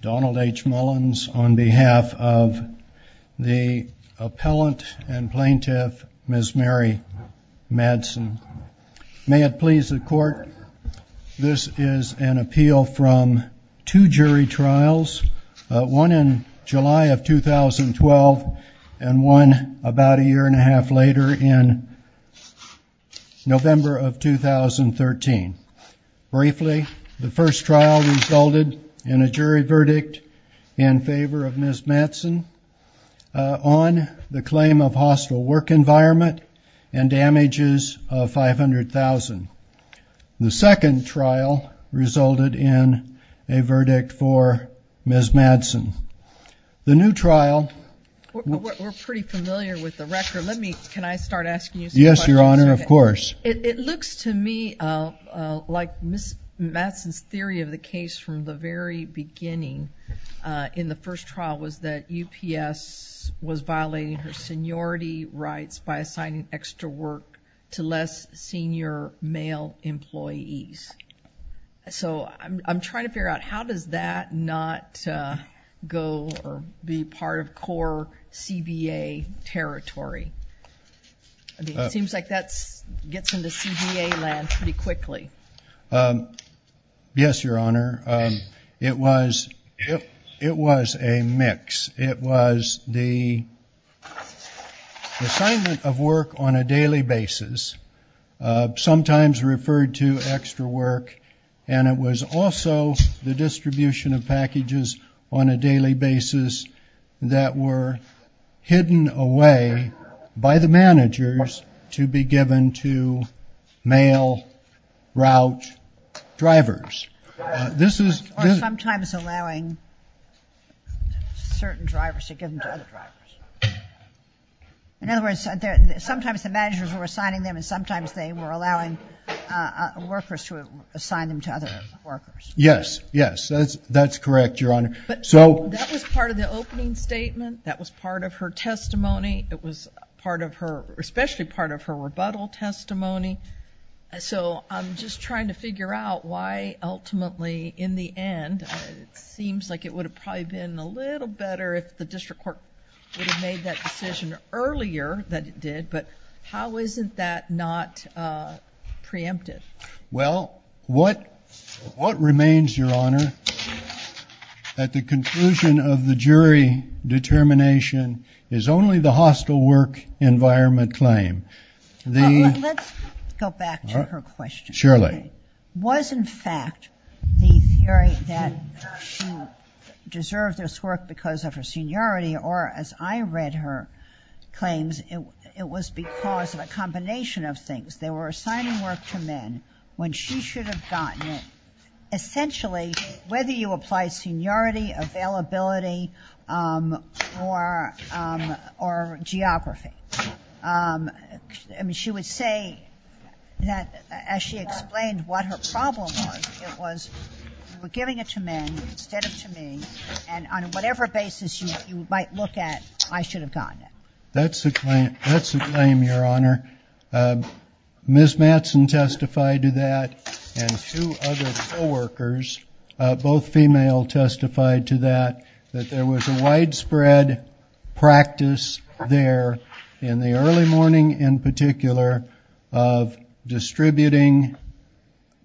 Donald H. Mullins on behalf of the Appellant and Plaintiff, Ms. Mary Matson. May it please the Court, this is an appeal from two jury trials, one in July of 2012 and one about a year and a half later in November of 2013. Briefly, the first trial resulted in a jury verdict in favor of Ms. Matson on the claim of hostile work environment and damages of $500,000. The second trial resulted in a verdict for Ms. Matson. The new trial... We're pretty familiar with the record. Can I start asking you some questions? Yes, Your Honor, of course. It looks to me like Ms. Matson's theory of the case from the very beginning in the first trial was that UPS was violating her seniority rights by assigning extra work to less senior male employees. So I'm trying to figure out, how does that not go or be part of core CBA territory? It seems like that gets into CBA land pretty quickly. Yes, Your Honor. It was a mix. It was the assignment of work on a daily basis, sometimes referred to as extra work, and it was also the distribution of packages on a daily basis that were hidden away by the managers to be given to male route drivers. Or sometimes allowing certain drivers to give them to other drivers. In other words, sometimes the managers were assigning them and sometimes they were allowing workers to assign them to other workers. Yes, yes, that's correct, Your Honor. That was part of the opening statement. That was part of her testimony. It was especially part of her rebuttal testimony. So I'm just trying to figure out why ultimately, in the end, it seems like it would have probably been a little better if the district court would have made that decision earlier than it did. But how isn't that not preempted? Well, what remains, Your Honor, at the conclusion of the jury determination, is only the hostile work environment claim. Let's go back to her question. Surely. Was, in fact, the theory that she deserved this work because of her seniority or, as I read her claims, it was because of a combination of things. They were assigning work to men when she should have gotten it. Essentially, whether you apply seniority, availability, or geography, I mean, she would say that as she explained what her problem was, it was you were giving it to men instead of to me, and on whatever basis you might look at, I should have gotten it. That's the claim, Your Honor. Ms. Mattson testified to that, and two other co-workers, both female, testified to that, that there was a widespread practice there in the early morning, in particular, of distributing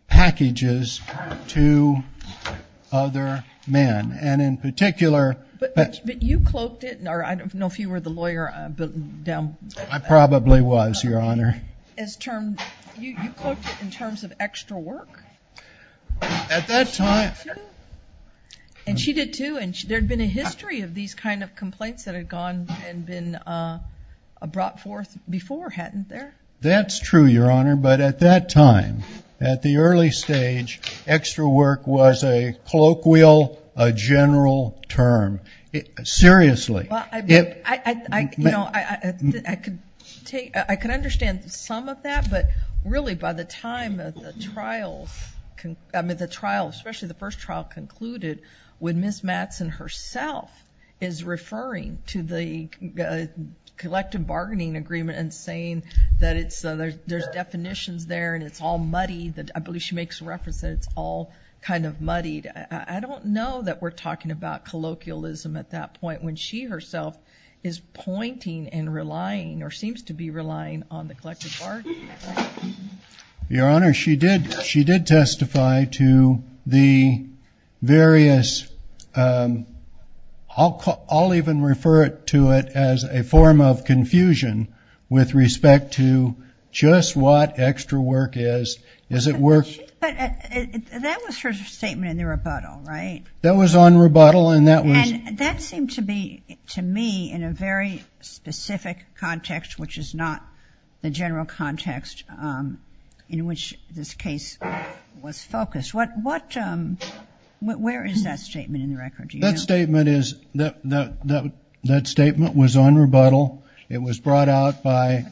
packages to other men. And in particular. But you cloaked it, or I don't know if you were the lawyer. I probably was, Your Honor. You cloaked it in terms of extra work? At that time. And she did, too, and there had been a history of these kind of complaints that had gone and been brought forth before, hadn't there? That's true, Your Honor, but at that time, at the early stage, extra work was a colloquial, a general term. Seriously. I can understand some of that, but really, by the time the trial, especially the first trial concluded, when Ms. Mattson herself is referring to the collective bargaining agreement and saying that there's definitions there and it's all muddied, I believe she makes reference that it's all kind of muddied, I don't know that we're talking about colloquialism at that point, when she herself is pointing and relying or seems to be relying on the collective bargaining agreement. Your Honor, she did testify to the various, I'll even refer to it as a form of confusion with respect to just what extra work is. But that was her statement in the rebuttal, right? That was on rebuttal. And that seemed to be, to me, in a very specific context, which is not the general context in which this case was focused. Where is that statement in the record? That statement was on rebuttal. It was brought out by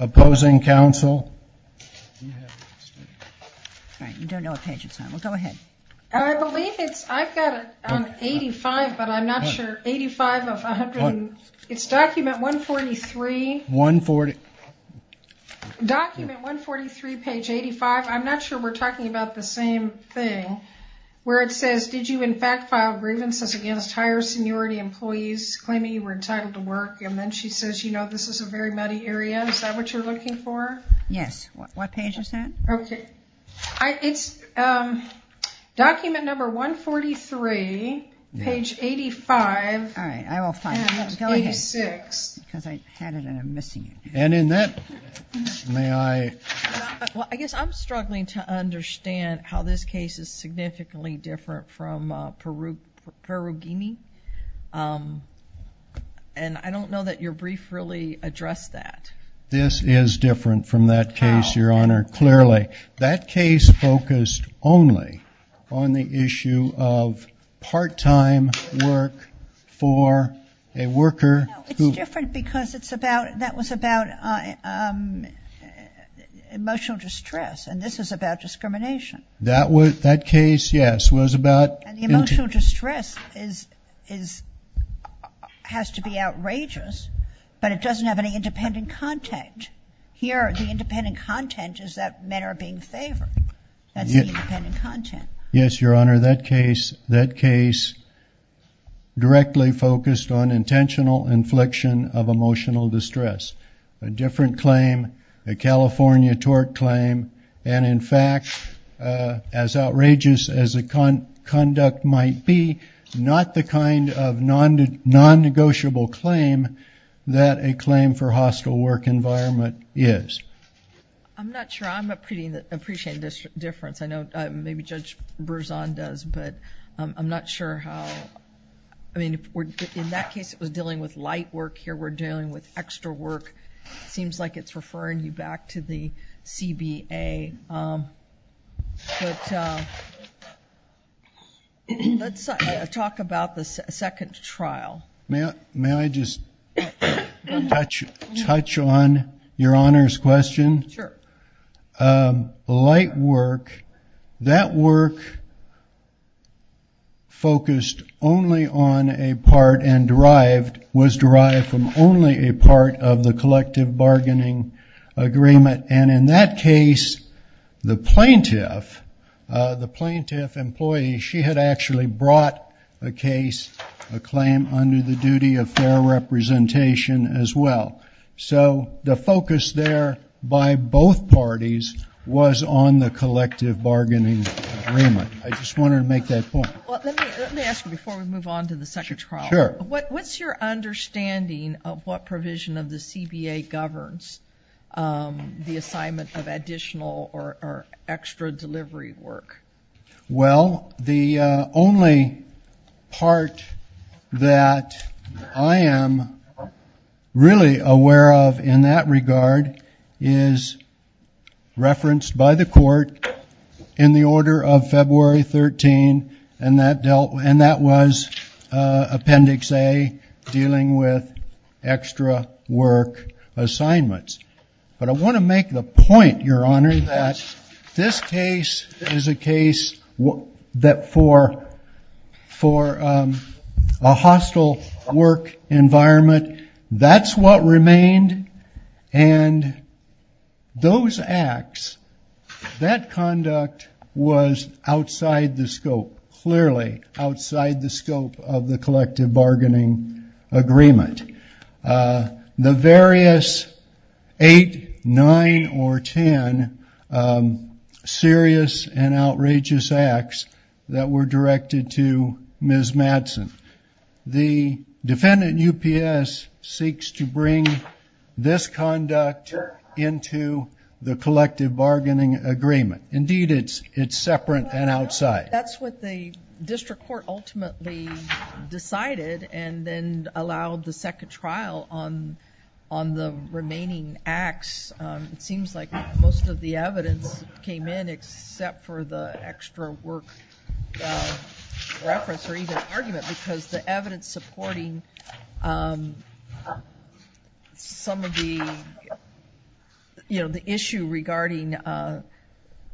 opposing counsel. All right, you don't know what page it's on. Well, go ahead. I believe it's, I've got it on 85, but I'm not sure. 85 of 100, it's document 143. 140. Document 143, page 85. I'm not sure we're talking about the same thing. Where it says, did you in fact file grievances against higher seniority employees claiming you were entitled to work? And then she says, you know, this is a very muddy area. Is that what you're looking for? Yes. What page is that? Okay. It's document number 143, page 85. All right, I will find it. 86. Because I had it and I'm missing it. And in that, may I? Well, I guess I'm struggling to understand how this case is significantly different from Perugini. And I don't know that your brief really addressed that. This is different from that case, Your Honor, clearly. How? That case focused only on the issue of part-time work for a worker. No, it's different because it's about, that was about emotional distress. And this is about discrimination. That case, yes, was about. And the emotional distress has to be outrageous, but it doesn't have any independent content. Here the independent content is that men are being favored. That's the independent content. Yes, Your Honor, that case directly focused on intentional infliction of emotional distress. A different claim, a California tort claim. And, in fact, as outrageous as the conduct might be, not the kind of non-negotiable claim that a claim for hostile work environment is. I'm not sure. I'm appreciating the difference. I know maybe Judge Berzon does, but I'm not sure how. I mean, in that case it was dealing with light work. Here we're dealing with extra work. It seems like it's referring you back to the CBA. But let's talk about the second trial. May I just touch on Your Honor's question? Sure. Light work, that work focused only on a part was derived from only a part of the collective bargaining agreement. And in that case the plaintiff, the plaintiff employee, she had actually brought a case, a claim under the duty of fair representation as well. So the focus there by both parties was on the collective bargaining agreement. I just wanted to make that point. Let me ask you before we move on to the second trial. Sure. What's your understanding of what provision of the CBA governs the assignment of additional or extra delivery work? Well, the only part that I am really aware of in that regard is referenced by the court in the order of February 13, and that was Appendix A, dealing with extra work assignments. But I want to make the point, Your Honor, that this case is a case that for a hostile work environment, that's what remained. And those acts, that conduct was outside the scope, clearly outside the scope of the collective bargaining agreement. The various eight, nine, or ten serious and outrageous acts that were directed to Ms. Madsen. The defendant UPS seeks to bring this conduct into the collective bargaining agreement. Indeed, it's separate and outside. That's what the district court ultimately decided and then allowed the second trial on the remaining acts. It seems like most of the evidence came in except for the extra work reference or even argument because the evidence supporting some of the issue regarding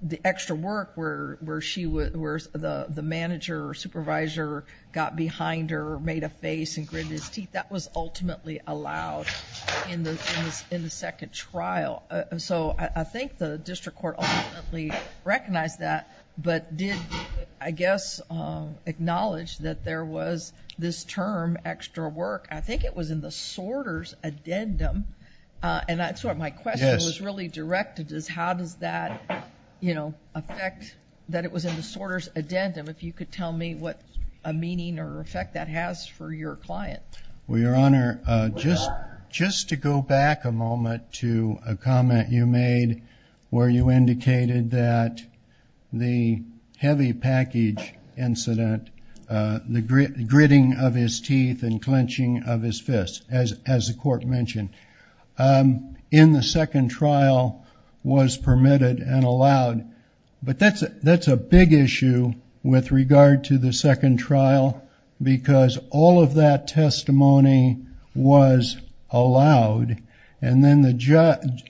the extra work where the manager or supervisor got behind her or made a face and gritted his teeth, that was ultimately allowed in the second trial. So I think the district court ultimately recognized that but did, I guess, acknowledge that there was this term extra work. I think it was in the sorter's addendum. And that's what my question was really directed as, how does that affect that it was in the sorter's addendum? If you could tell me what a meaning or effect that has for your client. Well, Your Honor, just to go back a moment to a comment you made where you indicated that the heavy package incident, the gritting of his teeth and clenching of his fists, as the court mentioned, in the second trial was permitted and allowed. But that's a big issue with regard to the second trial because all of that testimony was allowed. And then the judge,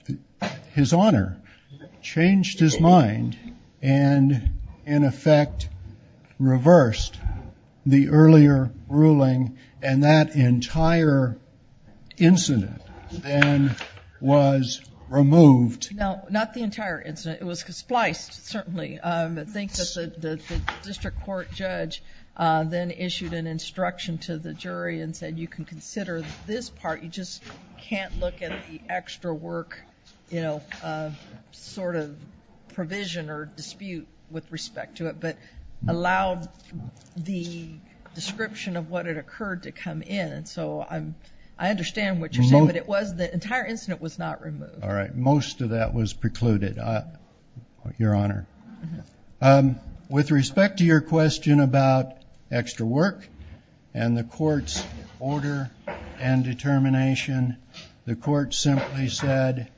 His Honor, changed his mind and in effect reversed the earlier ruling and that entire incident then was removed. No, not the entire incident. It was spliced, certainly. I think that the district court judge then issued an instruction to the jury and said you can consider this part, you just can't look at the extra work sort of provision or dispute with respect to it, but allowed the description of what had occurred to come in. And so I understand what you're saying, but it was, the entire incident was not removed. All right, most of that was precluded, Your Honor. With respect to your question about extra work and the court's order and determination, the court simply said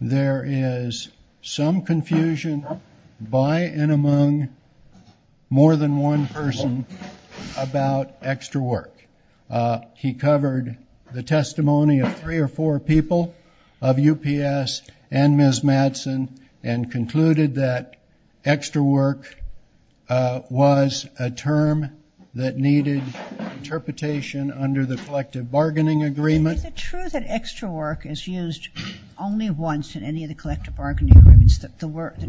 there is some confusion by and among more than one person about extra work. He covered the testimony of three or four people, of UPS and Ms. Madsen, and concluded that extra work was a term that needed interpretation under the collective bargaining agreement. Is it true that extra work is used only once in any of the collective bargaining agreements, the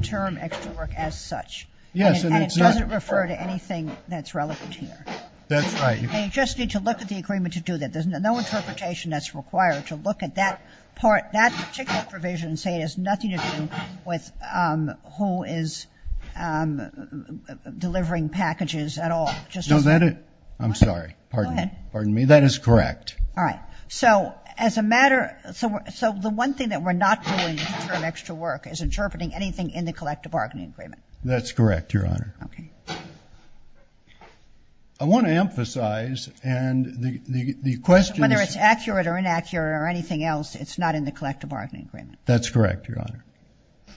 term extra work as such? Yes. And it doesn't refer to anything that's relevant here? That's right. And you just need to look at the agreement to do that. There's no interpretation that's required to look at that part, that particular provision and say it has nothing to do with who is delivering packages at all. No, that is, I'm sorry. Go ahead. Pardon me. That is correct. All right. So as a matter, so the one thing that we're not doing in terms of extra work is interpreting anything in the collective bargaining agreement. That's correct, Your Honor. Okay. I want to emphasize, and the question is. If it's accurate or inaccurate or anything else, it's not in the collective bargaining agreement. That's correct, Your Honor. I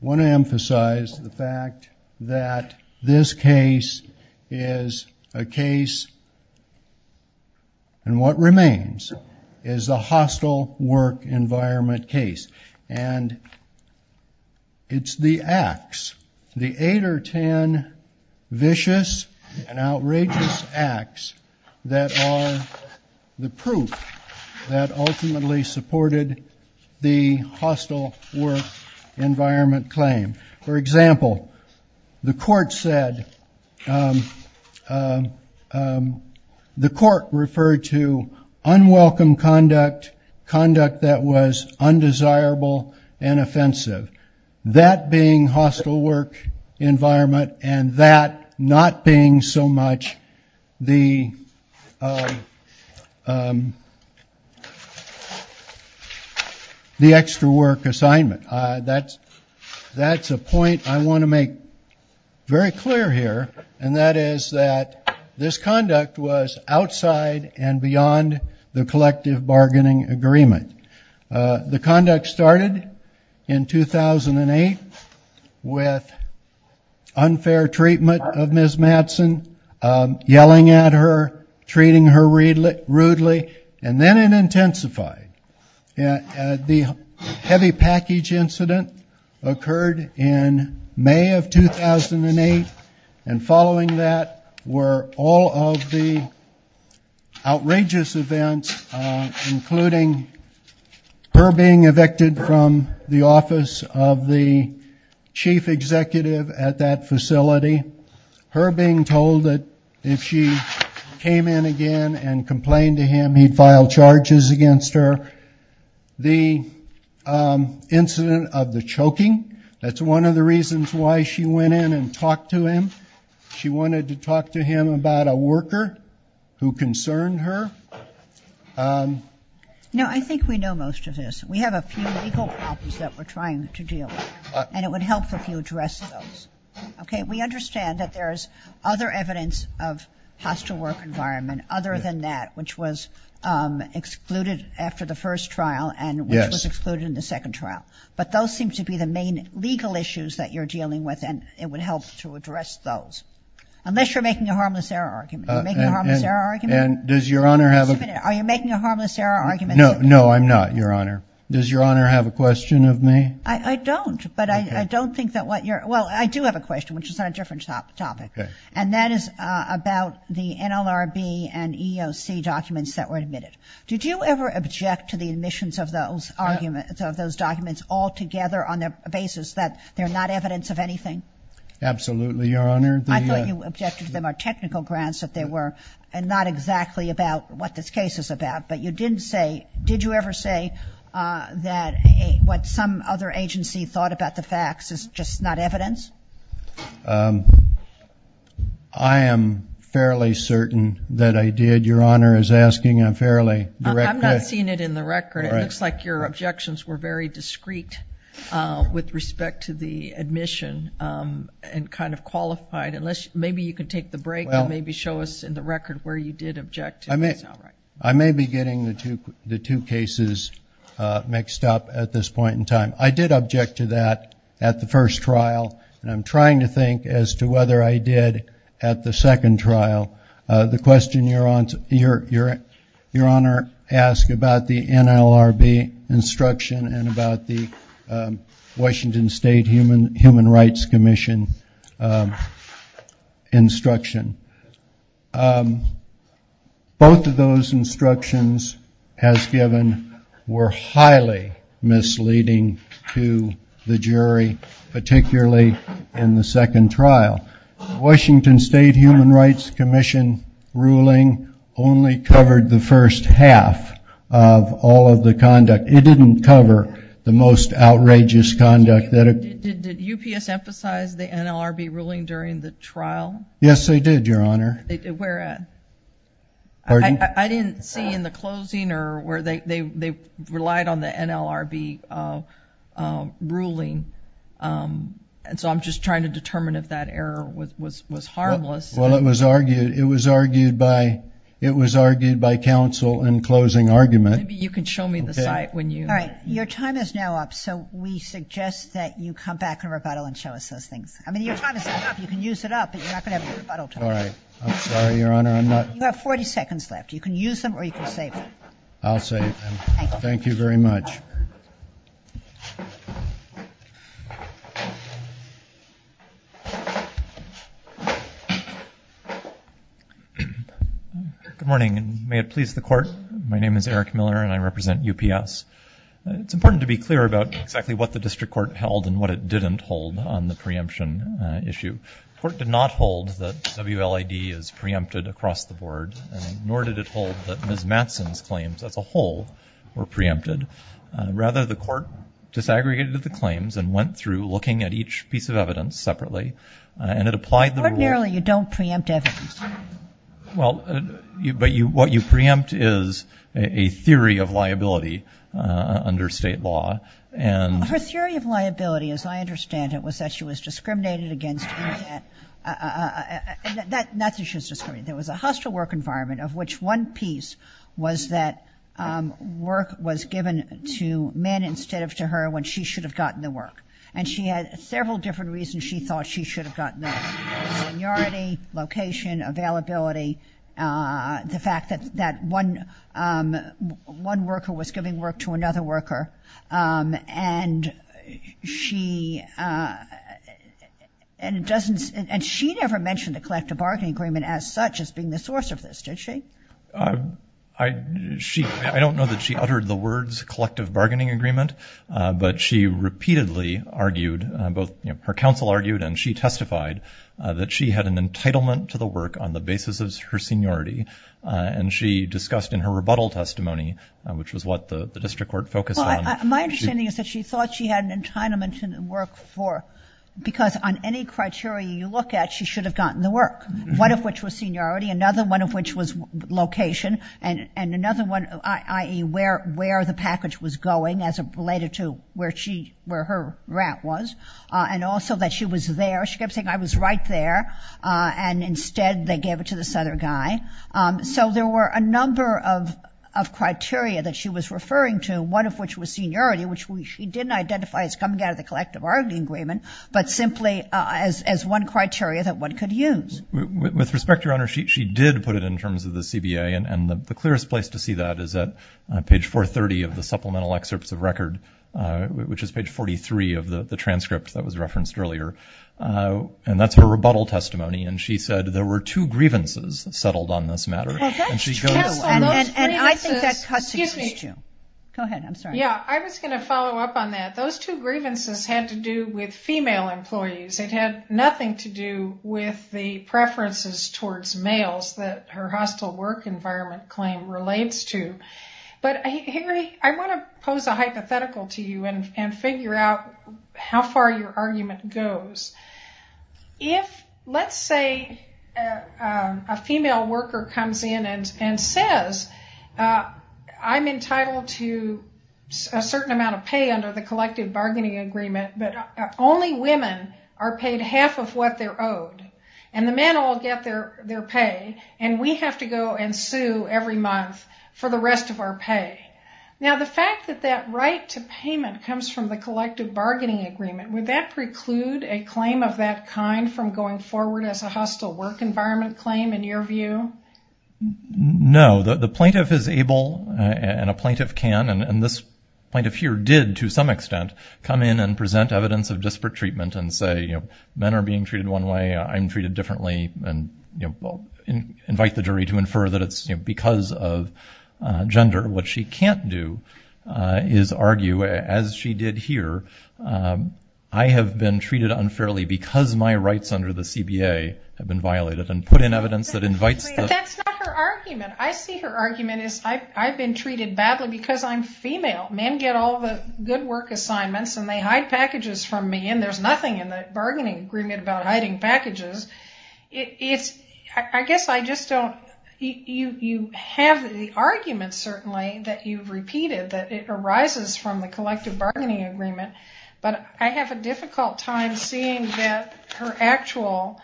want to emphasize the fact that this case is a case, and what remains is a hostile work environment case. And it's the acts, the eight or ten vicious and outrageous acts, that are the proof that ultimately supported the hostile work environment claim. For example, the court said, the court referred to unwelcome conduct, conduct that was undesirable and offensive. That being hostile work environment and that not being so much the extra work assignment. That's a point I want to make very clear here, and that is that this conduct was outside and beyond the collective bargaining agreement. The conduct started in 2008 with unfair treatment of Ms. Matson, yelling at her, treating her rudely, and then it intensified. The heavy package incident occurred in May of 2008, and following that were all of the outrageous events, including her being evicted from the office of the chief executive at that facility, her being told that if she came in again and complained to him, he'd file charges against her. The incident of the choking, that's one of the reasons why she went in and talked to him. She wanted to talk to him about a worker who concerned her. No, I think we know most of this. We have a few legal problems that we're trying to deal with, and it would help if you addressed those. Okay? We understand that there's other evidence of hostile work environment other than that, which was excluded after the first trial and which was excluded in the second trial, but those seem to be the main legal issues that you're dealing with, and it would help to address those. Unless you're making a harmless error argument. Are you making a harmless error argument? And does Your Honor have a— Wait a minute. Are you making a harmless error argument? No, I'm not, Your Honor. Does Your Honor have a question of me? I don't, but I don't think that what you're— Well, I do have a question, which is on a different topic. Okay. And that is about the NLRB and EEOC documents that were admitted. Did you ever object to the admissions of those documents altogether on the basis that they're not evidence of anything? Absolutely, Your Honor. I thought you objected to them are technical grounds that they were not exactly about what this case is about, but you didn't say—did you ever say that what some other agency thought about the facts is just not evidence? I am fairly certain that I did. Your Honor is asking a fairly direct question. I'm not seeing it in the record. It looks like your objections were very discreet with respect to the admission and kind of qualified. Maybe you can take the break and maybe show us in the record where you did object to things outright. I may be getting the two cases mixed up at this point in time. I did object to that at the first trial, and I'm trying to think as to whether I did at the second trial. The question Your Honor asked about the NLRB instruction and about the Washington State Human Rights Commission instruction, both of those instructions as given were highly misleading to the jury, particularly in the second trial. The Washington State Human Rights Commission ruling only covered the first half of all of the conduct. It didn't cover the most outrageous conduct. Did UPS emphasize the NLRB ruling during the trial? Yes, they did, Your Honor. I didn't see in the closing where they relied on the NLRB ruling, and so I'm just trying to determine if that error was harmless. Well, it was argued by counsel in closing argument. Maybe you can show me the site when you – All right. Your time is now up, so we suggest that you come back in rebuttal and show us those things. I mean, your time is up. You can use it up, but you're not going to have a rebuttal time. All right. I'm sorry, Your Honor, I'm not – You have 40 seconds left. You can use them or you can save them. I'll save them. Thank you. Thank you very much. Good morning, and may it please the Court. My name is Eric Miller, and I represent UPS. It's important to be clear about exactly what the district court held and what it didn't hold on the preemption issue. The court did not hold that WLAD is preempted across the board, nor did it hold that Ms. Matson's claims as a whole were preempted. Rather, the court disaggregated the claims and went through looking at each piece of evidence separately, and it applied the rule – Ordinarily, you don't preempt evidence. Well, but what you preempt is a theory of liability under state law, and – Her theory of liability, as I understand it, was that she was discriminated against in that – not that she was discriminated – there was a hostile work environment of which one piece was that work was given to men instead of to her when she should have gotten the work. And she had several different reasons she thought she should have gotten that. Linearity, location, availability, the fact that one worker was giving work to another worker, and she – and it doesn't – and she never mentioned a collective bargaining agreement as such as being the source of this, did she? I don't know that she uttered the words collective bargaining agreement, but she repeatedly argued – her counsel argued and she testified that she had an entitlement to the work on the basis of her seniority, and she discussed in her rebuttal testimony, which was what the district court focused on – Well, my understanding is that she thought she had an entitlement to the work for – because on any criteria you look at, she should have gotten the work, one of which was seniority, another one of which was location, and another one, i.e., where the package was going as related to where she – where her grant was, and also that she was there. She kept saying, I was right there, and instead they gave it to this other guy. So there were a number of criteria that she was referring to, one of which was seniority, which she didn't identify as coming out of the collective bargaining agreement, but simply as one criteria that one could use. With respect, Your Honor, she did put it in terms of the CBA, and the clearest place to see that is at page 430 of the supplemental excerpts of record, which is page 43 of the transcript that was referenced earlier. And that's her rebuttal testimony, and she said there were two grievances settled on this matter. Well, that's true. And I think that cuts to the issue. Go ahead, I'm sorry. Yeah, I was going to follow up on that. Those two grievances had to do with female employees. It had nothing to do with the preferences towards males that her hostile work environment claim relates to. But, Harry, I want to pose a hypothetical to you and figure out how far your argument goes. If, let's say, a female worker comes in and says, I'm entitled to a certain amount of pay under the collective bargaining agreement, but only women are paid half of what they're owed, and the men all get their pay, and we have to go and sue every month for the rest of our pay. Now, the fact that that right to payment comes from the collective bargaining agreement, would that preclude a claim of that kind from going forward as a hostile work environment claim, in your view? No. The plaintiff is able, and a plaintiff can, and this plaintiff here did, to some extent, come in and present evidence of disparate treatment and say, men are being treated one way, I'm treated differently, and invite the jury to infer that it's because of gender. What she can't do is argue, as she did here, I have been treated unfairly because my rights under the CBA have been violated, and put in evidence that invites the... But that's not her argument. I see her argument as, I've been treated badly because I'm female. Men get all the good work assignments and they hide packages from me, and there's nothing in the bargaining agreement about hiding packages. I guess I just don't... You have the argument, certainly, that you've repeated, that it arises from the collective bargaining agreement, but I have a difficult time seeing that her actual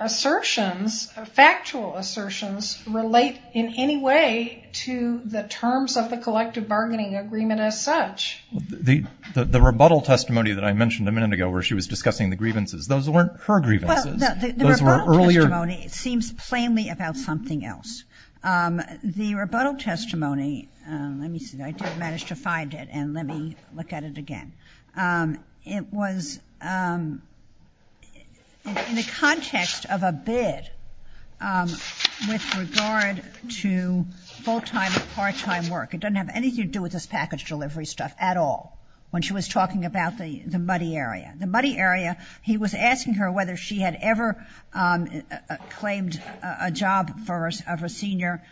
assertions, factual assertions, relate in any way to the terms of the collective bargaining agreement as such. The rebuttal testimony that I mentioned a minute ago, where she was discussing the grievances, those weren't her grievances, those were earlier... Well, the rebuttal testimony seems plainly about something else. The rebuttal testimony, let me see, I did manage to find it, and let me look at it again. It was in the context of a bid with regard to full-time and part-time work. It doesn't have anything to do with this package delivery stuff at all, when she was talking about the muddy area. He was asking her whether she had ever claimed a job of a senior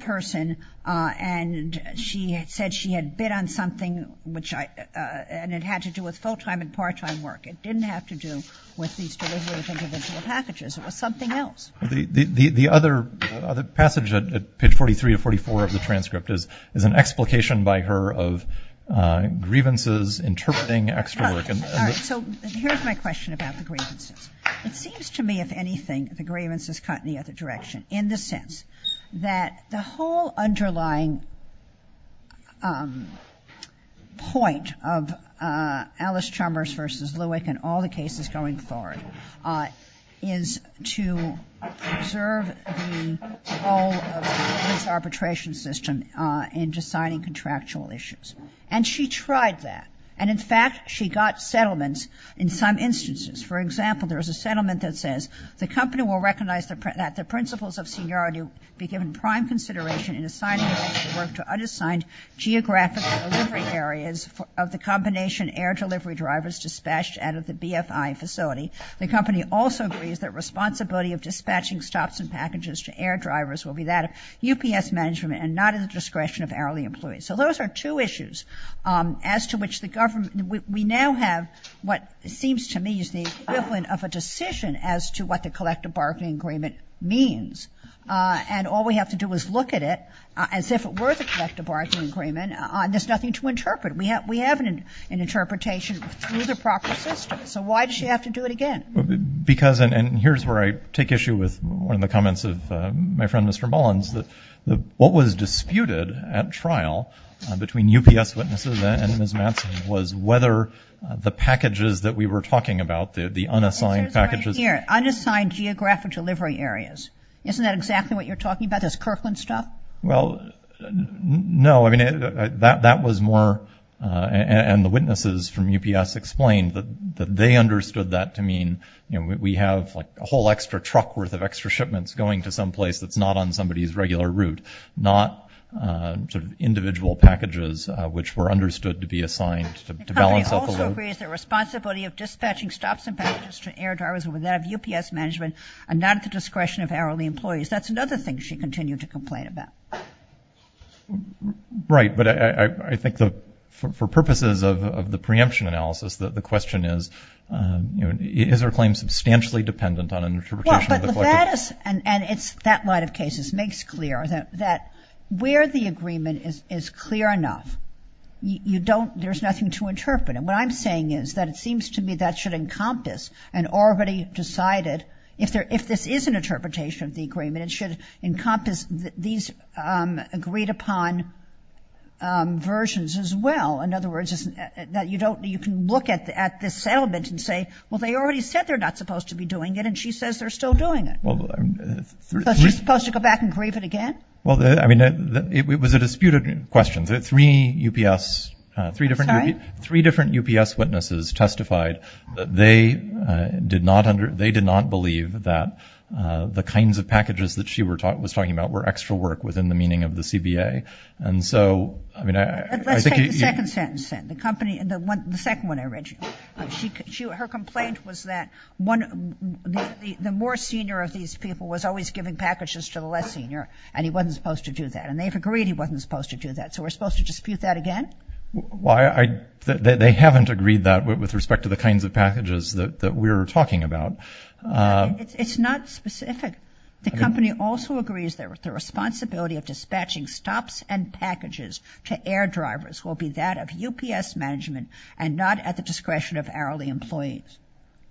person, and she said she had bid on something, and it had to do with full-time and part-time work. It didn't have to do with these delivery of individual packages. It was something else. The other passage, page 43 to 44 of the transcript, is an explication by her of grievances interpreting extra work. All right, so here's my question about the grievances. It seems to me, if anything, the grievances cut in the other direction, in the sense that the whole underlying point of Alice Chalmers v. Lewick and all the cases going forward is to preserve the whole of this arbitration system in deciding contractual issues, and she tried that. And in fact, she got settlements in some instances. For example, there's a settlement that says, the company will recognize that the principles of seniority be given prime consideration in assigning additional work to unassigned geographic delivery areas of the combination air delivery drivers dispatched out of the BFI facility. The company also agrees that responsibility of dispatching stops and packages to air drivers will be that of UPS management and not at the discretion of hourly employees. So those are two issues as to which the government, we now have what seems to me is the equivalent of a decision as to what the collective bargaining agreement means. And all we have to do is look at it as if it were the collective bargaining agreement, and there's nothing to interpret. We have an interpretation through the proper system. So why does she have to do it again? Because, and here's where I take issue with one of the comments of my friend, Mr. Mullins, that what was disputed at trial between UPS witnesses and Ms. Matson was whether the packages that we were talking about, the unassigned packages. Unassigned geographic delivery areas. Isn't that exactly what you're talking about, this Kirkland stuff? Well, no, I mean, that was more, and the witnesses from UPS explained that they understood that to mean, you know, we have like a whole extra truck worth of extra shipments going to some place that's not on somebody's regular route, not individual packages which were understood to be assigned to balance out the load. The company also agrees that the responsibility of dispatching stops and packages to air drivers without UPS management are not at the discretion of hourly employees. That's another thing she continued to complain about. Right, but I think for purposes of the preemption analysis, the question is, you know, is her claim substantially dependent on an interpretation of the collective? Well, that is, and it's that line of cases makes clear that where the agreement is clear enough, you don't, there's nothing to interpret. And what I'm saying is that it seems to me that should encompass an already decided, if this is an interpretation of the agreement, it should encompass these agreed upon versions as well. In other words, you can look at this settlement and say, well, they already said they're not supposed to be doing it, and she says they're still doing it. So is she supposed to go back and grieve it again? Well, I mean, it was a disputed question. Three UPS, three different UPS witnesses testified that they did not, they did not believe that the kinds of packages that she was talking about were extra work within the meaning of the CBA. And so, I mean, I think you. Let's take the second sentence then, the company, the second one I read you. Her complaint was that the more senior of these people was always giving packages to the less senior, and he wasn't supposed to do that. And they've agreed he wasn't supposed to do that, so we're supposed to dispute that again? Well, they haven't agreed that with respect to the kinds of packages that we're talking about. It's not specific. The company also agrees that the responsibility of dispatching stops and packages to air drivers will be that of UPS management and not at the discretion of hourly employees.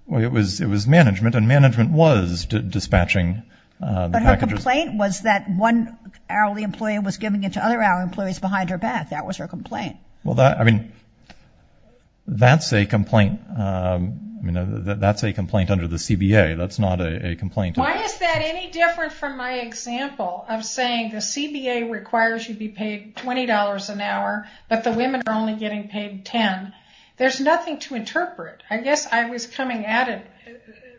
Well, it was management, and management was dispatching packages. But her complaint was that one hourly employee was giving it to other hourly employees behind her back. That was her complaint. Well, I mean, that's a complaint under the CBA. That's not a complaint. Why is that any different from my example of saying the CBA requires you to be paid $20 an hour, but the women are only getting paid $10? There's nothing to interpret. I guess I was coming at it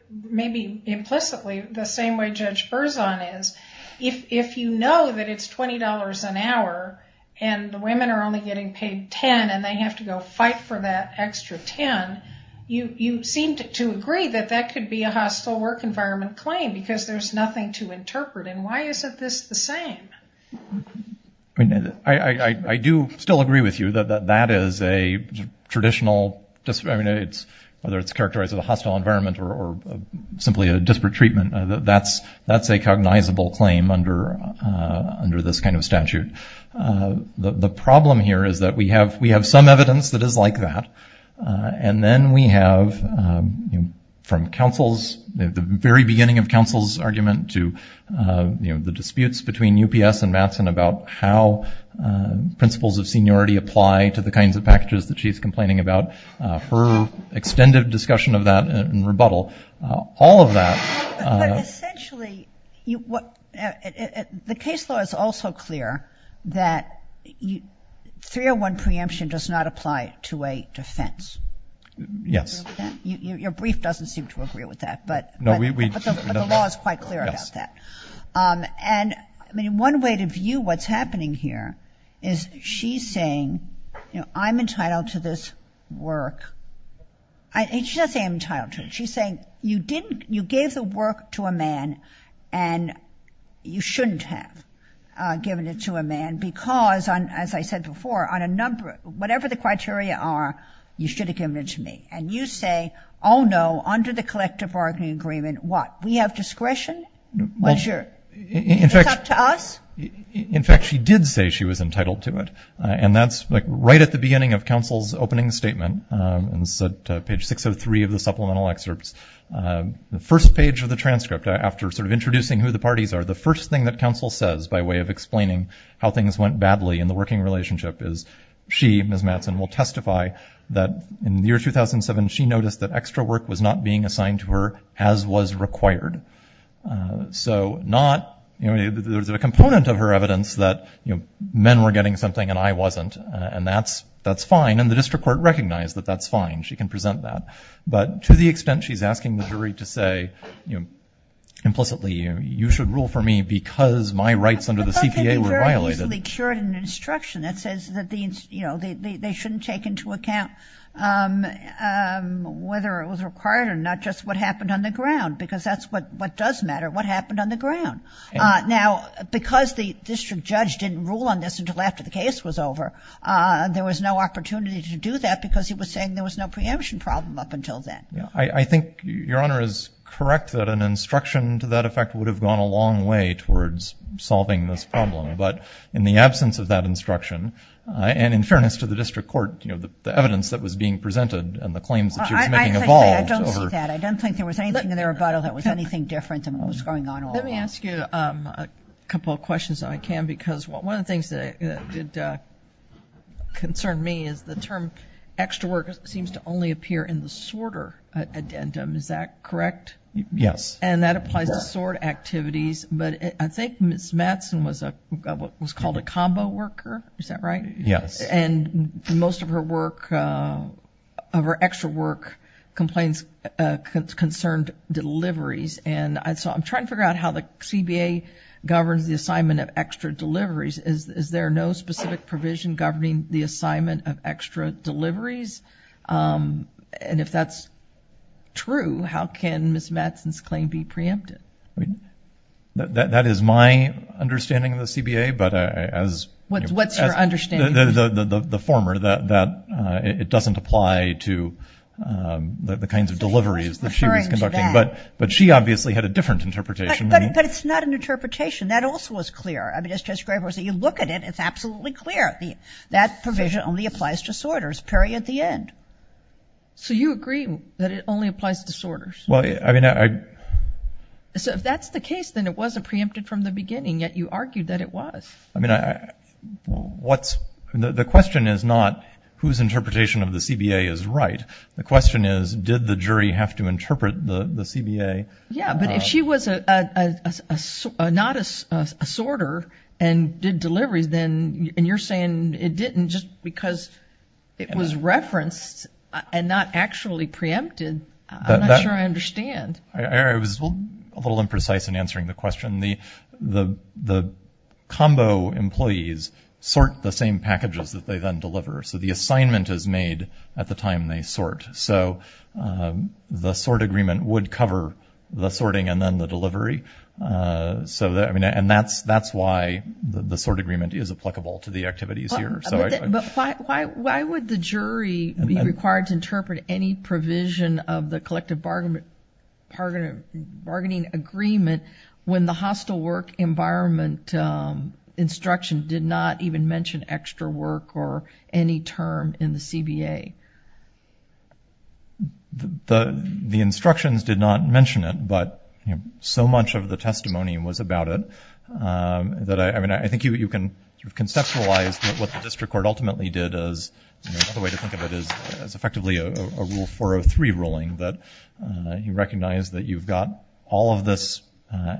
maybe implicitly the same way Judge Berzon is. If you know that it's $20 an hour and the women are only getting paid $10 and they have to go fight for that extra $10, you seem to agree that that could be a hostile work environment claim because there's nothing to interpret. And why is this the same? I do still agree with you that that is a traditional, whether it's characterized as a hostile environment or simply a disparate treatment, that's a cognizable claim under this kind of statute. The problem here is that we have some evidence that is like that, and then we have from the very beginning of counsel's argument to the disputes between UPS and Matson about how principles of seniority apply to the kinds of packages that she's complaining about, her extended discussion of that and rebuttal, all of that. But essentially, the case law is also clear that 301 preemption does not apply to a defense. Yes. Your brief doesn't seem to agree with that, but the law is quite clear about that. One way to view what's happening here is she's saying, I'm entitled to this work. She's not saying I'm entitled to it. She's saying you gave the work to a man and you shouldn't have given it to a man because, as I said before, whatever the criteria are, you should have given it to me. And you say, oh, no, under the collective bargaining agreement, what? We have discretion? It's up to us? In fact, she did say she was entitled to it, and that's right at the beginning of counsel's opening statement. It's at page 603 of the supplemental excerpts. The first page of the transcript, after sort of introducing who the parties are, the first thing that counsel says by way of explaining how things went badly in the working relationship is she, Ms. Matson, will testify that in the year 2007 she noticed that extra work was not being assigned to her as was required. So not, you know, there's a component of her evidence that, you know, men were getting something and I wasn't, and that's fine. And the district court recognized that that's fine. She can present that. But to the extent she's asking the jury to say, you know, implicitly you should rule for me because my rights under the CPA were violated. The court easily cured an instruction that says that, you know, they shouldn't take into account whether it was required or not, just what happened on the ground, because that's what does matter, what happened on the ground. Now, because the district judge didn't rule on this until after the case was over, there was no opportunity to do that because he was saying there was no preemption problem up until then. I think Your Honor is correct that an instruction to that effect would have gone a long way towards solving this problem. But in the absence of that instruction, and in fairness to the district court, you know, the evidence that was being presented and the claims that she was making evolved over. I don't see that. I don't think there was anything in the rebuttal that was anything different than what was going on all along. Let me ask you a couple of questions if I can, because one of the things that did concern me is the term extra work seems to only appear in the sorter addendum. Is that correct? Yes. And that applies to sort activities. But I think Ms. Mattson was called a combo worker. Is that right? Yes. And most of her work, of her extra work, complains concerned deliveries. And so I'm trying to figure out how the CBA governs the assignment of extra deliveries. Is there no specific provision governing the assignment of extra deliveries? And if that's true, how can Ms. Mattson's claim be preempted? That is my understanding of the CBA. What's your understanding? The former, that it doesn't apply to the kinds of deliveries that she was conducting. But she obviously had a different interpretation. But it's not an interpretation. That also was clear. You look at it, it's absolutely clear. That provision only applies to sorters. Period. The end. So you agree that it only applies to sorters? Well, I mean, I. So if that's the case, then it wasn't preempted from the beginning, yet you argued that it was. I mean, what's. The question is not whose interpretation of the CBA is right. The question is, did the jury have to interpret the CBA? Yeah. But if she was not a sorter and did deliveries, then you're saying it didn't just because it was referenced and not actually preempted. I'm not sure I understand. I was a little imprecise in answering the question. The combo employees sort the same packages that they then deliver. So the assignment is made at the time they sort. So the sort agreement would cover the sorting and then the delivery. So, I mean, and that's why the sort agreement is applicable to the activities here. But why would the jury be required to interpret any provision of the collective bargaining agreement when the hostile work environment instruction did not even mention extra work or any term in the CBA? The instructions did not mention it, but so much of the testimony was about it that I mean, I think you can conceptualize what the district court ultimately did as effectively a rule 403 ruling that you recognize that you've got all of this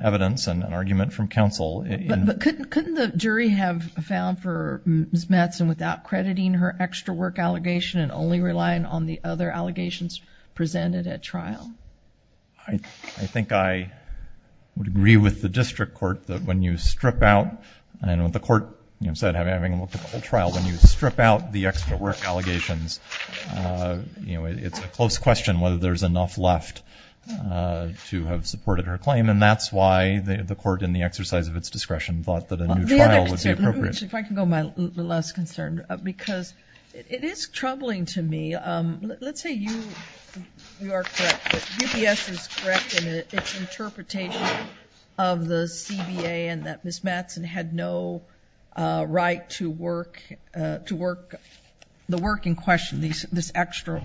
evidence and an argument from counsel. But couldn't the jury have found for Ms. Mattson without crediting her extra work allegation and only relying on the other allegations presented at trial? I think I would agree with the district court that when you strip out and what the court said having looked at the whole trial, when you strip out the extra work allegations, it's a close question whether there's enough left to have supported her claim. And that's why the court in the exercise of its discretion thought that a new trial would be appropriate. If I can go my last concern, because it is troubling to me. Let's say you are correct. UPS is correct in its interpretation of the CBA and that Ms. Mattson has no right to work, the work in question, this extra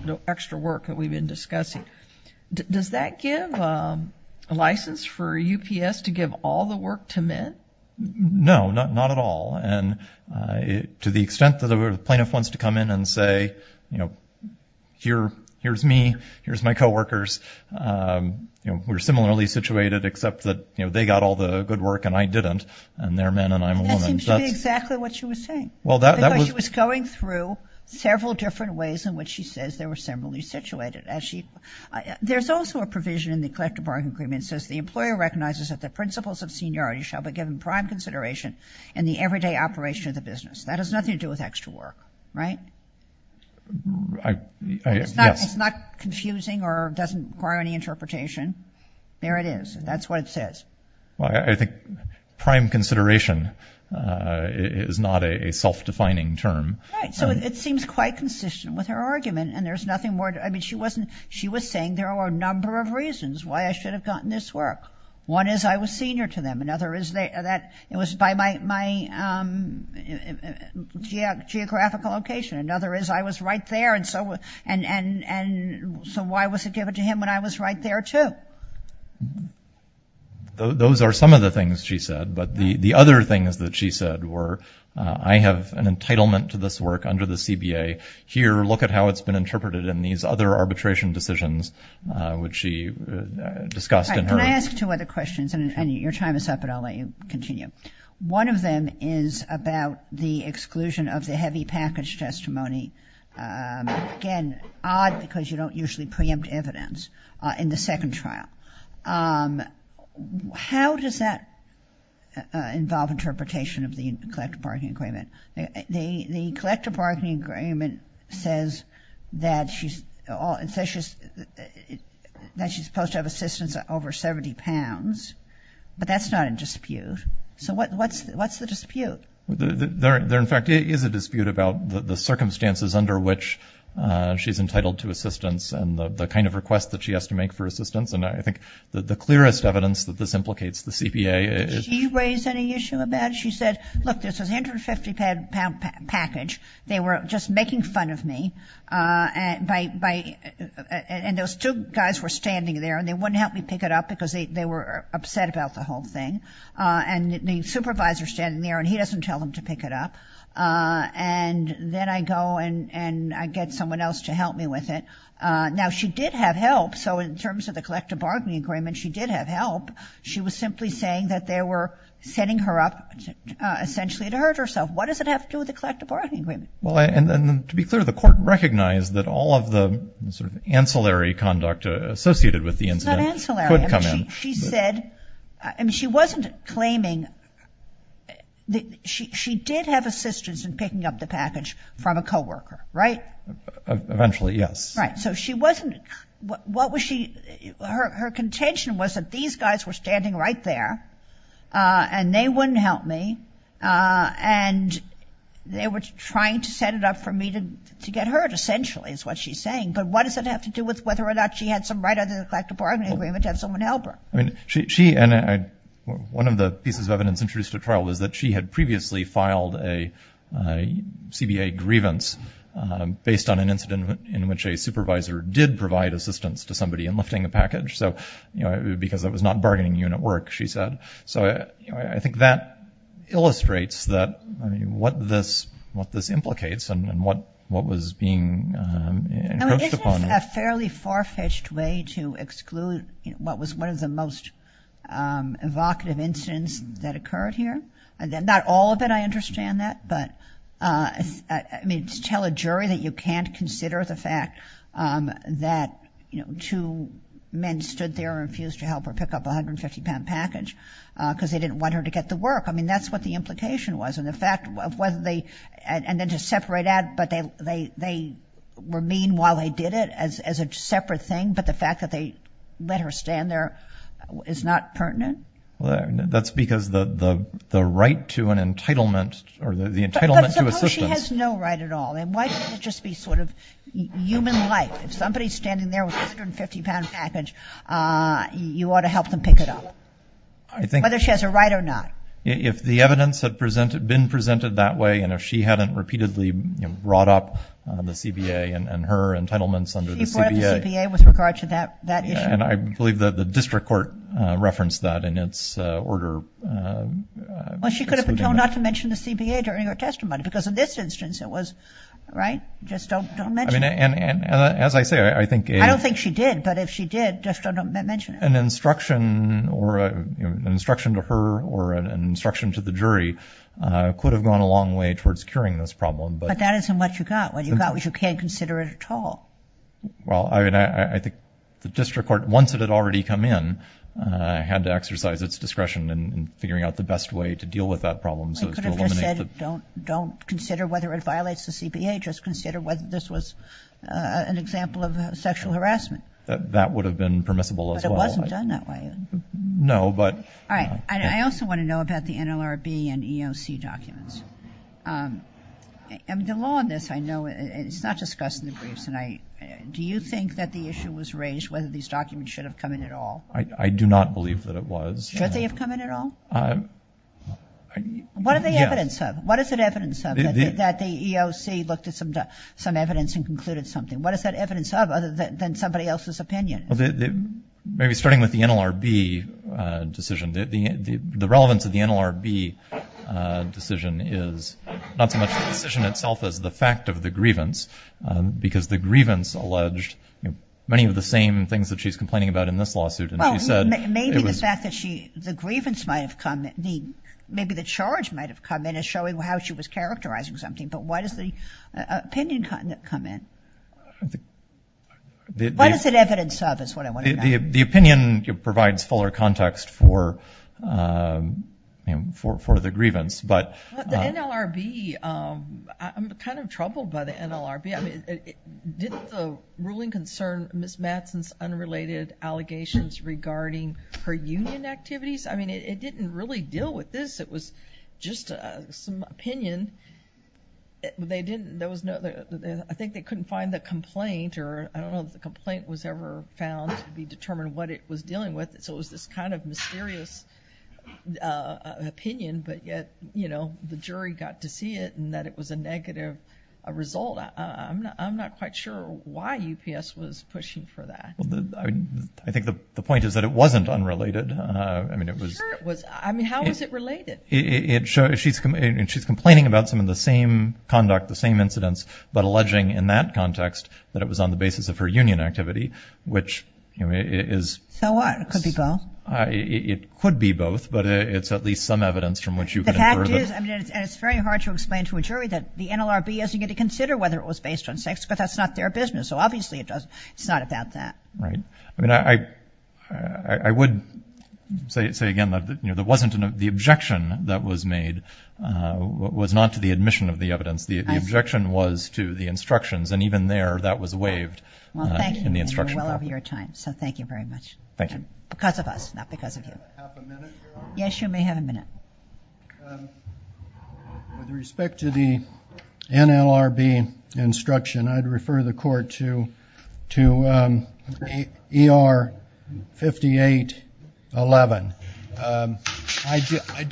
work that we've been discussing. Does that give a license for UPS to give all the work to men? No, not at all. And to the extent that a plaintiff wants to come in and say, you know, here's me, here's my coworkers, you know, we're similarly situated except that, you know, they got all the good work and I didn't and they're men and I'm a woman. That seems to be exactly what she was saying. She was going through several different ways in which she says they were similarly situated. There's also a provision in the collective bargaining agreement that says the employer recognizes that the principles of seniority shall be given prime consideration in the everyday operation of the business. That has nothing to do with extra work, right? It's not confusing or doesn't require any interpretation. There it is. That's what it says. Well, I think prime consideration is not a self-defining term. Right. So it seems quite consistent with her argument and there's nothing more to it. I mean, she was saying there are a number of reasons why I should have gotten this work. One is I was senior to them. Another is that it was by my geographical location. Another is I was right there and so why was it given to him when I was right there, too? Those are some of the things she said. But the other things that she said were I have an entitlement to this work under the CBA. Here, look at how it's been interpreted in these other arbitration decisions which she discussed in her. Can I ask two other questions? And your time is up, but I'll let you continue. One of them is about the exclusion of the heavy package testimony. Again, odd because you don't usually preempt evidence in the second trial. How does that involve interpretation of the collective bargaining agreement? The collective bargaining agreement says that she's supposed to have assistance over 70 pounds, but that's not a dispute. So what's the dispute? There, in fact, is a dispute about the circumstances under which she's entitled to assistance and the kind of request that she has to make for assistance. And I think the clearest evidence that this implicates the CBA is. Did she raise any issue about it? She said, look, there's this 150-pound package. They were just making fun of me, and those two guys were standing there and they wouldn't help me pick it up because they were upset about the whole thing. And the supervisor's standing there and he doesn't tell him to pick it up. And then I go and I get someone else to help me with it. Now, she did have help. So in terms of the collective bargaining agreement, she did have help. She was simply saying that they were setting her up essentially to hurt herself. What does it have to do with the collective bargaining agreement? Well, and to be clear, the court recognized that all of the sort of ancillary conduct associated with the incident could come in. It's not ancillary. She said – I mean, she wasn't claiming – she did have assistance in picking up the package from a coworker, right? Eventually, yes. Right. So she wasn't – what was she – her contention was that these guys were standing right there and they wouldn't help me, and they were trying to set it up for me to get hurt, essentially, is what she's saying. But what does it have to do with whether or not she had some right under the collective bargaining agreement to have someone help her? I mean, she – and one of the pieces of evidence introduced at trial was that she had previously filed a CBA grievance based on an incident in which a supervisor did provide assistance to somebody in lifting a package. So, you know, because that was not bargaining unit work, she said. So I think that illustrates that – I mean, what this implicates and what was being encroached upon. Isn't this a fairly far-fetched way to exclude what was one of the most evocative incidents that occurred here? Not all of it, I understand that, but – I mean, to tell a jury that you can't consider the fact that, you know, two men stood there and refused to help her pick up a 150-pound package because they didn't want her to get the work. I mean, that's what the implication was, and the fact of whether they – they did it as a separate thing, but the fact that they let her stand there is not pertinent? Well, that's because the right to an entitlement or the entitlement to assistance – But suppose she has no right at all. Then why can't it just be sort of human-like? If somebody's standing there with a 150-pound package, you ought to help them pick it up, whether she has a right or not. If the evidence had been presented that way and if she hadn't repeatedly brought up the CBA and her entitlements under the CBA – She brought up the CBA with regard to that issue. And I believe that the district court referenced that in its order. Well, she could have been told not to mention the CBA during her testimony because in this instance it was, right, just don't mention it. I mean, and as I say, I think a – I don't think she did, but if she did, just don't mention it. An instruction to her or an instruction to the jury could have gone a long way towards curing this problem, but – But that isn't what you got. What you got was you can't consider it at all. Well, I mean, I think the district court, once it had already come in, had to exercise its discretion in figuring out the best way to deal with that problem so as to eliminate the – They could have just said don't consider whether it violates the CBA. Just consider whether this was an example of sexual harassment. That would have been permissible as well. But it wasn't done that way. No, but – All right. I also want to know about the NLRB and EOC documents. The law on this, I know, it's not discussed in the briefs, and do you think that the issue was raised whether these documents should have come in at all? I do not believe that it was. Should they have come in at all? What are the evidence of? What is the evidence of that the EOC looked at some evidence and concluded something? What is that evidence of other than somebody else's opinion? Maybe starting with the NLRB decision. The relevance of the NLRB decision is not so much the decision itself as the fact of the grievance because the grievance alleged many of the same things that she's complaining about in this lawsuit. And she said it was – Well, maybe the fact that she – the grievance might have come – maybe the charge might have come in as showing how she was characterizing something. But why does the opinion come in? What is it evidence of is what I want to know. The opinion provides fuller context for the grievance. The NLRB – I'm kind of troubled by the NLRB. Didn't the ruling concern Ms. Matson's unrelated allegations regarding her union activities? I mean, it didn't really deal with this. It was just some opinion. They didn't – there was no – I think they couldn't find the complaint or I don't know if the complaint was ever found to be determined what it was dealing with. So it was this kind of mysterious opinion, but yet, you know, the jury got to see it and that it was a negative result. I'm not quite sure why UPS was pushing for that. I think the point is that it wasn't unrelated. I mean, it was – Sure it was. I mean, how is it related? She's complaining about some of the same conduct, the same incidents, but alleging in that context that it was on the basis of her union activity, which is – So what? It could be both. It could be both, but it's at least some evidence from which you can infer that – The fact is, and it's very hard to explain to a jury that the NLRB isn't going to consider whether it was based on sex, because that's not their business. So obviously it's not about that. Right. I mean, I would say again that, you know, the objection that was made was not to the admission of the evidence. The objection was to the instructions, and even there that was waived in the instruction. Well, thank you. You're well over your time, so thank you very much. Thank you. Because of us, not because of you. Can I have a minute, Your Honor? Yes, you may have a minute. With respect to the NLRB instruction, I'd refer the Court to ER 5811. I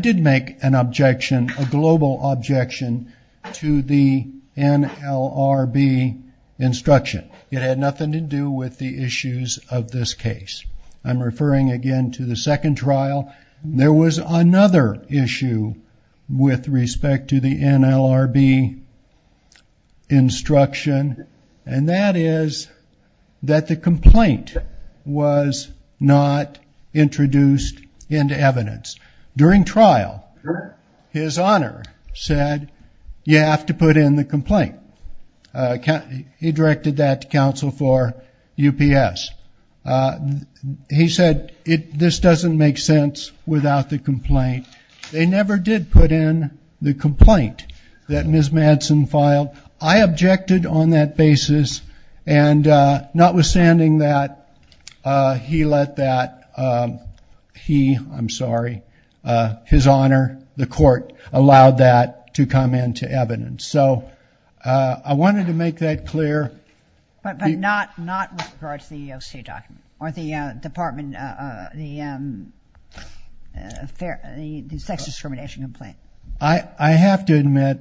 did make an objection, a global objection, to the NLRB instruction. It had nothing to do with the issues of this case. I'm referring again to the second trial. There was another issue with respect to the NLRB instruction, and that is that the complaint was not introduced into evidence. During trial, His Honor said, you have to put in the complaint. He directed that to counsel for UPS. He said, this doesn't make sense without the complaint. They never did put in the complaint that Ms. Madsen filed. I objected on that basis, and notwithstanding that, he let that, he, I'm sorry, His Honor, the Court, allowed that to come into evidence. So I wanted to make that clear. But not with regard to the OCA document or the department, the sex discrimination complaint. I have to admit,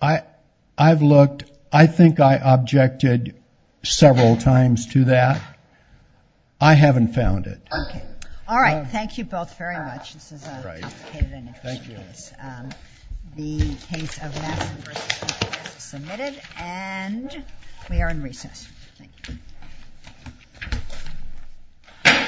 I've looked. I think I objected several times to that. I haven't found it. All right. Thank you both very much. This is a complicated and interesting case. The case of Madsen v. Ocasio-Cortez is submitted, and we are in recess. Thank you.